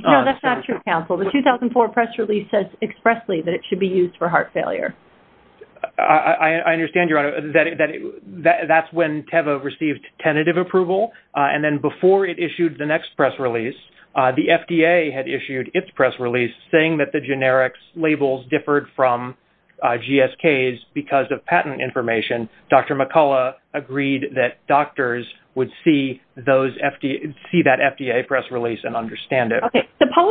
No, that's not true, counsel. The 2004 press release says expressly that it should be used for heart failure. I understand, Your Honor, that's when TEVA received tentative approval. And then before it issued the next press release, the FDA had issued its press release saying that the generics labels differed from GSK's because of patent information. Dr. McCullough agreed that doctors would see that FDA press release and understand it. I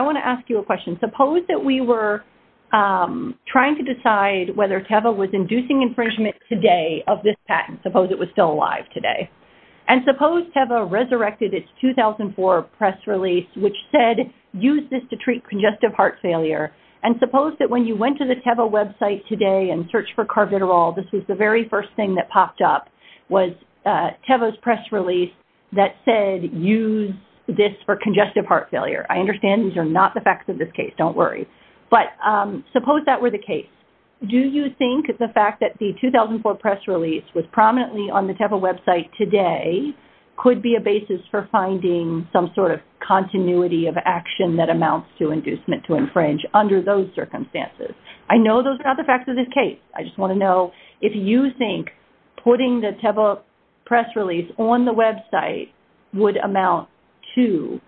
want to ask you a question. Suppose that we were to decide whether TEVA was inducing infringement today of this patent, suppose it was still alive today. And suppose TEVA resurrected its 2004 press release which said use this to treat congestive heart failure. And suppose that when you went to the TEVA website today and searched for CARBIDOLOL, this was the very first thing that popped up, was TEVA's press release that said use this for congestive heart failure. Do you think the fact that the 2004 press release was prominently on the TEVA website today could be a basis for finding some sort of continuity of action that amounts to inducement to infringe under those circumstances? I know those are not the facts of this case. I just want to know if you think putting the TEVA press release on the website would amount to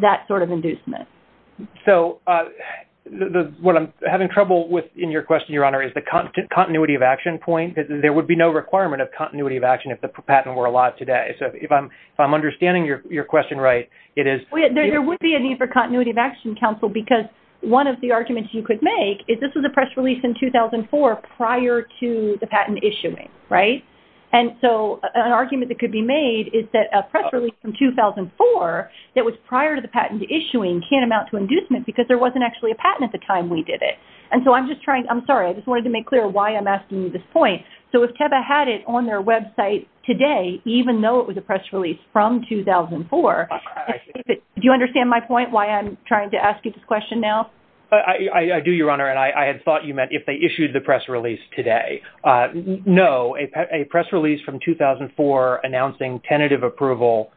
that sort of inducement. So what I'm having trouble with in your question, Your Honor, is the continuity of action point. There would be no requirement of continuity of action if the patent were alive today. So if I'm understanding your question right, it is... There would be a need for continuity of action counsel because one of the arguments you could make is this was a press release in 2004 prior to the patent issuing, right? And so an argument that could be made is that a press release from 2004 that was prior to the patent issuing can't amount to inducement because there wasn't actually a patent at the time we did it. I'm sorry. I just wanted to make clear why I'm asking you this point. So if TEVA had it on their website today, even though it was a press release from 2004, do you understand my point why I'm trying to ask you this question now? I do, Your Honor, and I had thought you meant if they issued the press release today. No. A press release from 2004 announcing tentative approval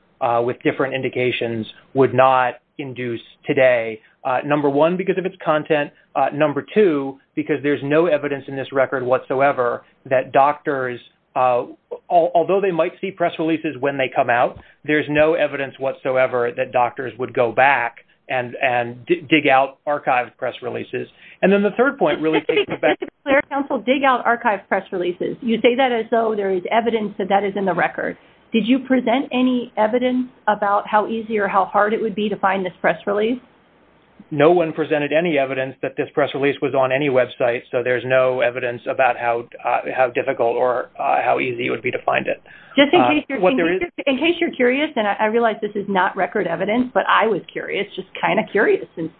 with different indications would not induce today, number one, because of its content, number two, because there's no evidence in this record whatsoever that doctors, although they might see press releases when they come out, there's no evidence whatsoever that doctors would go back and dig out archived press releases. And then the third point really takes me back. Mr. McClure, counsel, dig out archived press releases. You say that as though there is evidence that that is in the record. Did you present any evidence about how easy or how hard it would be to find this press release? No one presented any evidence that this press release was on any website, so there's no evidence about how difficult or how easy it would be to find it. Just in case you're curious, and I realize this is not record evidence, but I was curious, just kind of curious, since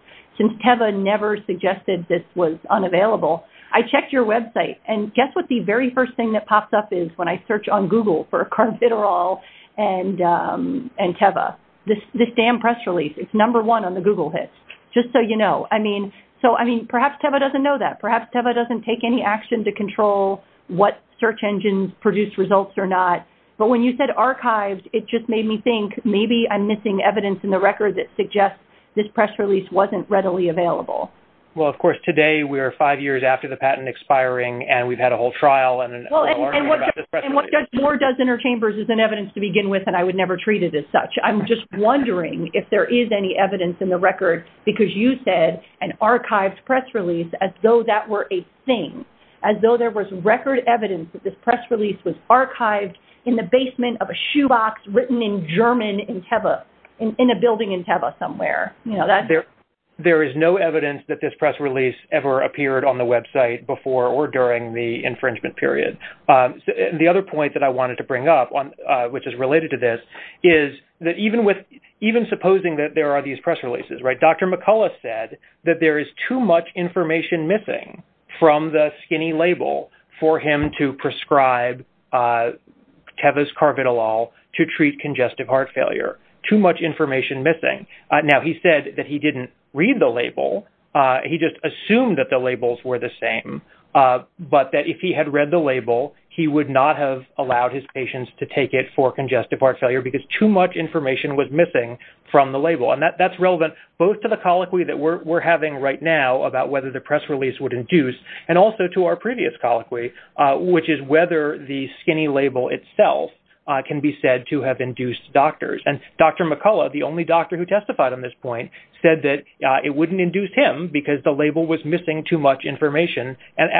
Teva never suggested this was unavailable, I checked your website, and guess what the very first thing that pops up is when I search on Google for carbidolol and Teva? This damn press release. It's number one on the Google hits, just so you know. I mean, perhaps Teva doesn't know that. Perhaps Teva doesn't take any action to control what search engines produce results or not, but when you said archived, it just made me think maybe I'm missing evidence in the record that suggests this press release wasn't readily available. Well, of course, today we are five years after the patent expiring, and we've had a whole trial and a whole argument about this press release. And what more does Interchambers than evidence to begin with, and I would never treat it as such. I'm just wondering if there is any evidence in the record because you said an archived press release as though that were a thing, as though there was record evidence that this press release was archived in the basement of a shoebox written in German in Teva, in a building in Teva somewhere. There is no evidence that this press release ever appeared on the website before or during the infringement period. The other point that I wanted to bring up, which is related to this, is that even with, even supposing that there are these press releases, Dr. McCullough said that there is too much information missing from the skinny label for him to prescribe Teva's Carbidolol to treat congestive heart failure. Too much information missing. Now, he said that he didn't read the label. He just assumed that the labels were the same, but that if he had read the label, he would not have allowed his patients to take it for congestive heart failure because too much information was missing from the label. That is relevant both to the colloquy that we are having right now about whether the press release would induce and also to our previous colloquy, which is whether the skinny label itself can be said to have induced doctors. Dr. McCullough, the only doctor who testified on this point, said that it wouldn't induce him because the label was missing too much information.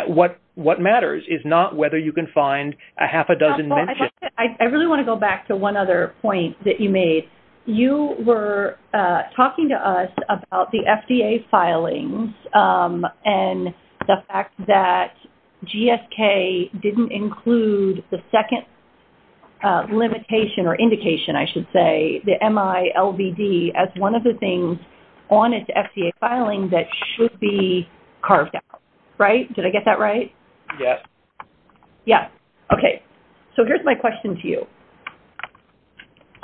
What matters is not whether you can find a half a dozen mentions. I really want to go back to one other point that you made. You were talking to us about the FDA filings and the fact that GSK didn't include the second limitation or indication, I should say, the MILVD things on its FDA filing that should be carved out. Did I get that right? Yes. Here is my question. What is the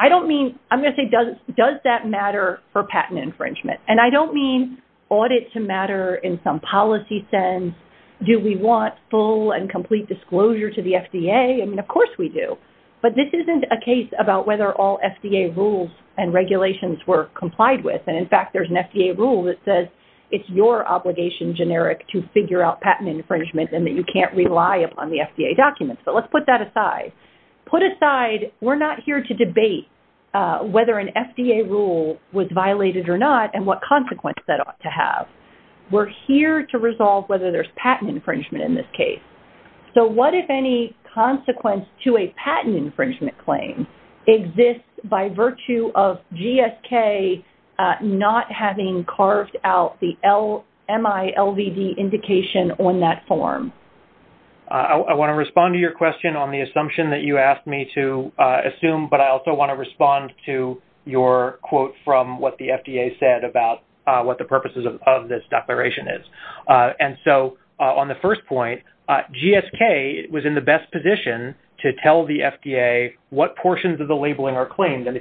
second limitation? Does that matter for patent infringement? I don't mean audit to matter in some policy sense. Do we want full and complete disclosure to the FDA? Of course we do. This isn't a case about whether all FDA rules and regulations were complied with. In fact, there is an FDA rule that says it is your obligation to figure out patent infringement. Let's put that aside. We are not here to debate whether an FDA rule was violated or not and what consequence that ought to have. We are here to resolve whether there is patent infringement in this case. What if any consequence to a patent infringement claim exists by virtue of GSK not having carved out the indication on that form? I want to respond to your question on the assumption you asked me to assume but I want to respond to your quote from what the FDA said about what the purposes of this declaration is. On the first point, GSK was in the best position to tell the FDA what portions of the labeling are claimed. I'm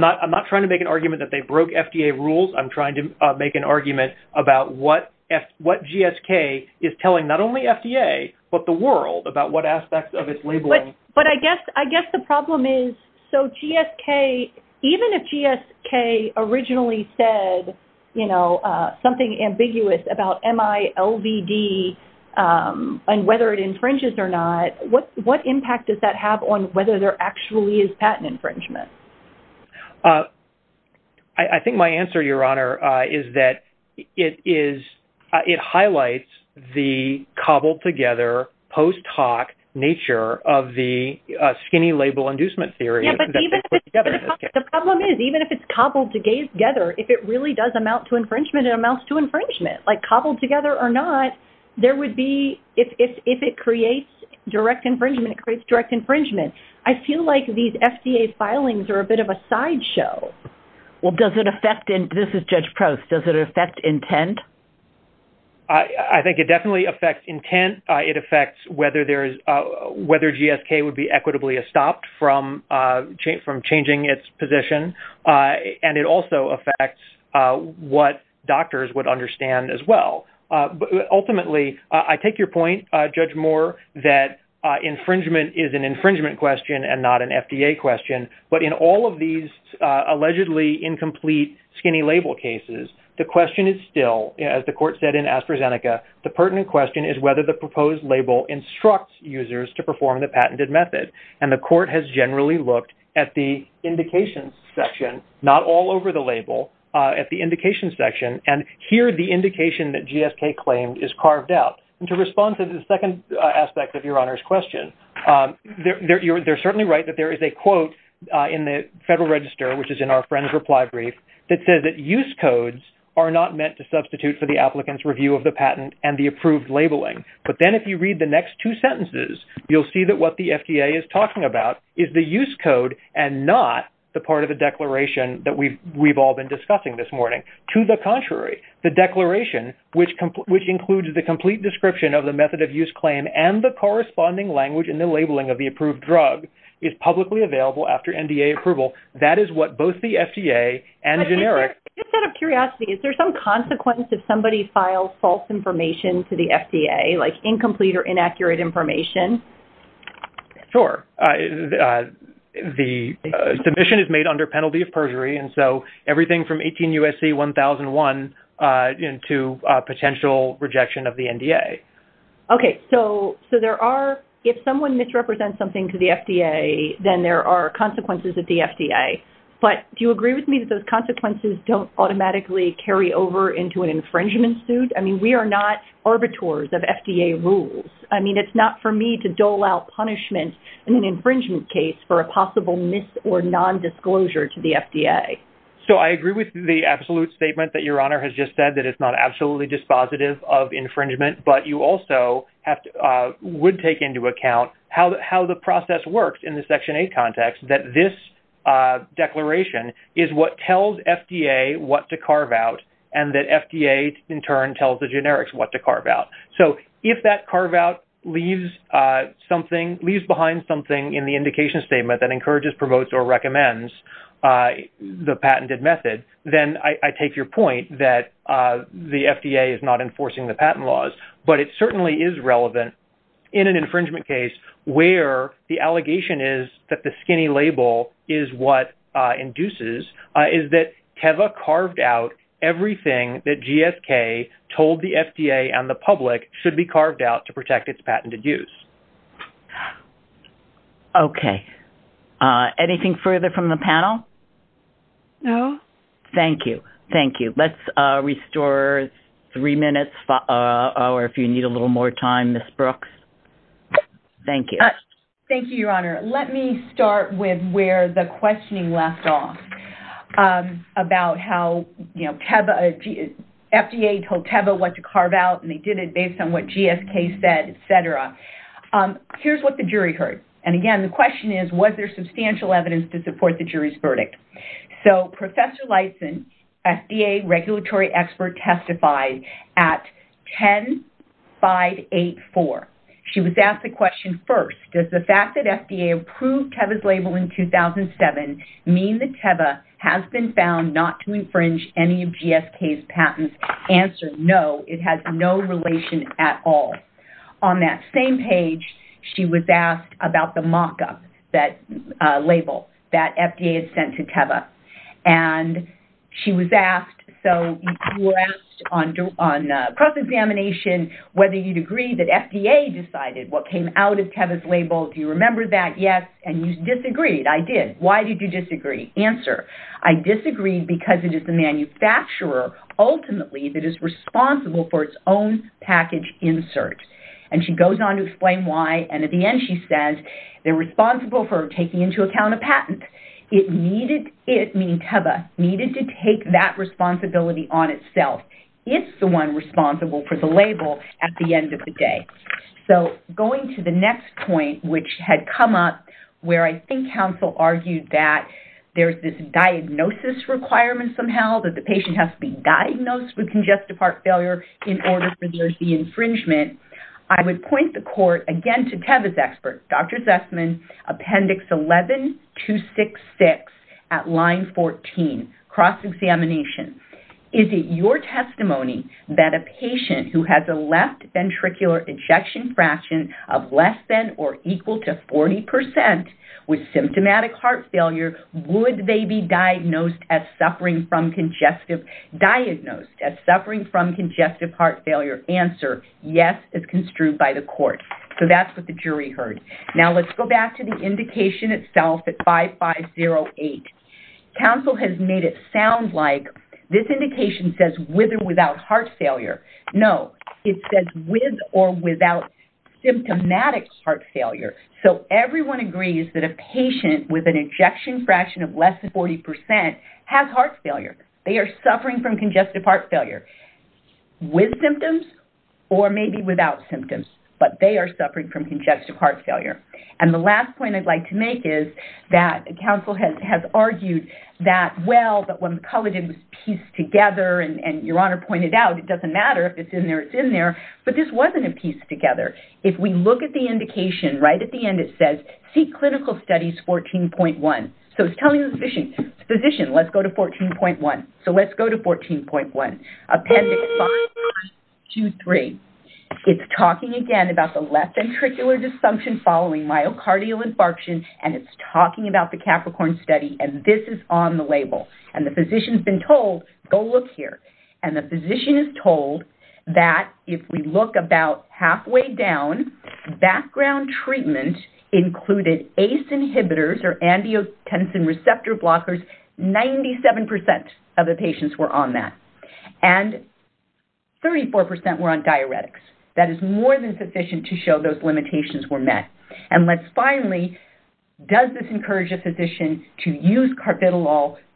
not trying to make an argument they broke FDA rules, I'm trying to make an argument about what GSK is telling not only FDA but the world. I guess the problem is, even if GSK originally said something ambiguous about MILVD and whether it infringes or not, what impact does that have on whether there actually is patent infringement? I think my answer, Your Honor, is that it highlights the cobbled together post talk nature of the skinny label inducement theory. The problem is, even if it's cobbled together, if it really does amount to infringement, it amounts to infringement. Cobbled together or not, if it creates direct infringement, it creates direct infringement. I feel like these FDA filings are a bit of a sideshow. This is Judge Proust. Does it affect intent? I think it definitely affects intent. It affects whether GSK would be equitably stopped from changing its position, and it also affects what doctors would understand as well. Ultimately, I take your point, Judge Moore, that infringement is an infringement question and not an FDA question, but in all of these allegedly incomplete skinny label cases, the question is still, as the court said in AstraZeneca, the pertinent question is whether the proposed label instructs users to perform the patented method. The court has generally looked at the indication section, not all over the court. You're certainly right that there is a quote in the Federal Register that says that use codes are not meant to substitute for the review of the patent and the approved labeling. If you read the next two sentences, what the FDA is talking about is the use code and not the part of the declaration that we've all been discussing this morning. To the contrary, the declaration, which includes the complete description of the method of use claim and the corresponding language in the labeling of the approved drug is publicly available after NDA approval. That is what both the FDA and generic do. Is there some consequence if somebody files false information to the FDA, like incomplete or inaccurate information? Sure. The submission is made under penalty of perjury, so everything from 18 USC 1001 to potential rejection of the NDA. Okay. So there are, if someone misrepresents something to the FDA, then there are consequences at the FDA level. So I agree with the absolute statement that your honor has just said that it's not absolutely dispositive of infringement, but you also would take into account how the process works in the section 8 context that this declaration is what tells FDA what to carve out and that FDA in turn tells the generics what to carve out. So if that carve out leaves behind something in the indication statement that encourages, promotes, or recommends the patented method, then I take your point that the FDA is not enforcing the patent laws, but it certainly is relevant in an infringement case where the allegation is that the skinny label is what induces, is that Teva carved out everything that GSK told the FDA and the public should be carved out to protect its patented use. Okay. Anything further from the panel? No. Thank you. Thank you. Let's restore three minutes or if you need a break. Thank you, Your Honor. Let me start with where the questioning left off about how, you know, Teva, FDA told Teva what to carve out and they did it based on what GSK said, et cetera. Here's what the jury heard. And again, the question is was there substantial evidence to support the jury's claim? And the question first, does the fact that FDA approved Teva's label in 2007 mean that Teva has been found not to infringe any of GSK's patents? Answer, no, it has no relation at all. On that same page, she was asked about the mock-up that label that FDA had sent to Teva. And she was asked, so you were asked on cross examination whether you would agree that FDA decided what came out of Teva's label. Do you remember that? Yes. And you disagreed. I did. Why did you disagree? Answer, I disagreed because it is the manufacturer ultimately that is responsible for its own package insert. And she goes on to explain why and at the end she says they are responsible for taking into account a patent. It needed to take that responsibility on itself. It's the one responsible for the label at the end of the day. So going to the next point which had come up where I think council argued that there's this diagnosis requirement that the patient has to be diagnosed with congestive heart failure. I would point the court to Teva's expert Dr. Zussman appendix 11266 cross examination. Is it your testimony that a patient who is diagnosed with symptomatic heart failure, would they be diagnosed as suffering from congestive heart failure? Answer, yes as construed by the court. That's what the jury heard. Let's go back to the indication itself. Council made it sound like this was a piece together. It doesn't matter if it's in there or not. It together. If we look at the indication at the end, it says seek clinical support and follow the guidelines and follow We have 4 pistol shot studies. Let's go to 14.1. Appendix 5. It's talking again about the disfunction following myocardial infarction. And the physician told us go look here. And the physician told us if we look about halfway down, background treatment included ACE inhibitors, 97% of the patients were on that. And 34% were on diuretics. That is more than sufficient to show those limitations were met. And let's finally, does this encourage a physician to use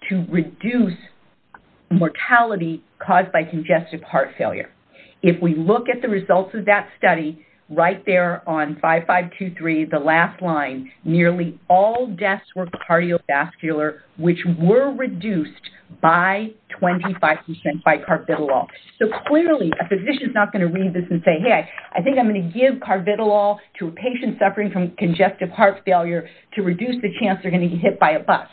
to reduce mortality caused by congestive heart failure. If we look at the results of that study, right there on 5523, the last line, nearly all deaths were cardiovascular, which were reduced by 25% by carbidolol. So clearly a physician is not going to read this and say, hey, I think I'm going to give carbidolol to a patient suffering from congestive heart failure to reduce the chance they're going to get hit by a bus.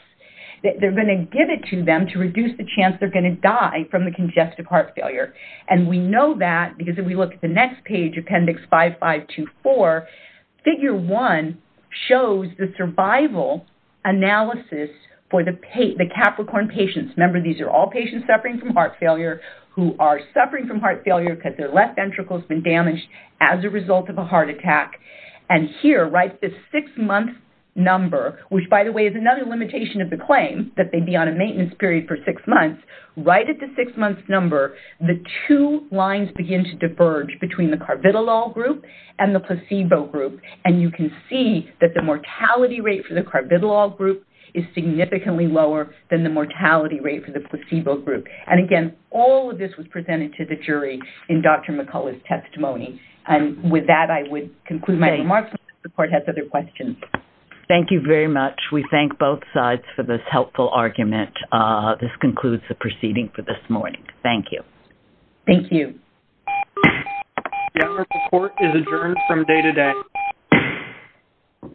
They're going to give it to them to reduce the chance they're going to die from the congestive heart failure. And we know that because if we look at the next page, appendix 5524, figure one shows the survival analysis for the Capricorn patients. Remember, these are all patients suffering from heart failure who are suffering from heart failure because their left ventricle has been damaged as a result of a heart attack. And here, right at the six-month number, which, by the way, is another limitation of the claim, right at the six-month number, the two lines begin to diverge between the carbidolol group and the placebo group. And you can see that the mortality rate for the carbidolol group is significantly lower than the mortality rate for the placebo group. And again, all of this was presented to the jury in Dr. McCullough's testimony. And with that, I would conclude my remarks for this morning. Thank you. Thank you very much. We thank both sides for this helpful argument. This concludes the proceeding for this morning. Thank you. Thank you. General support is adjourned from day to day.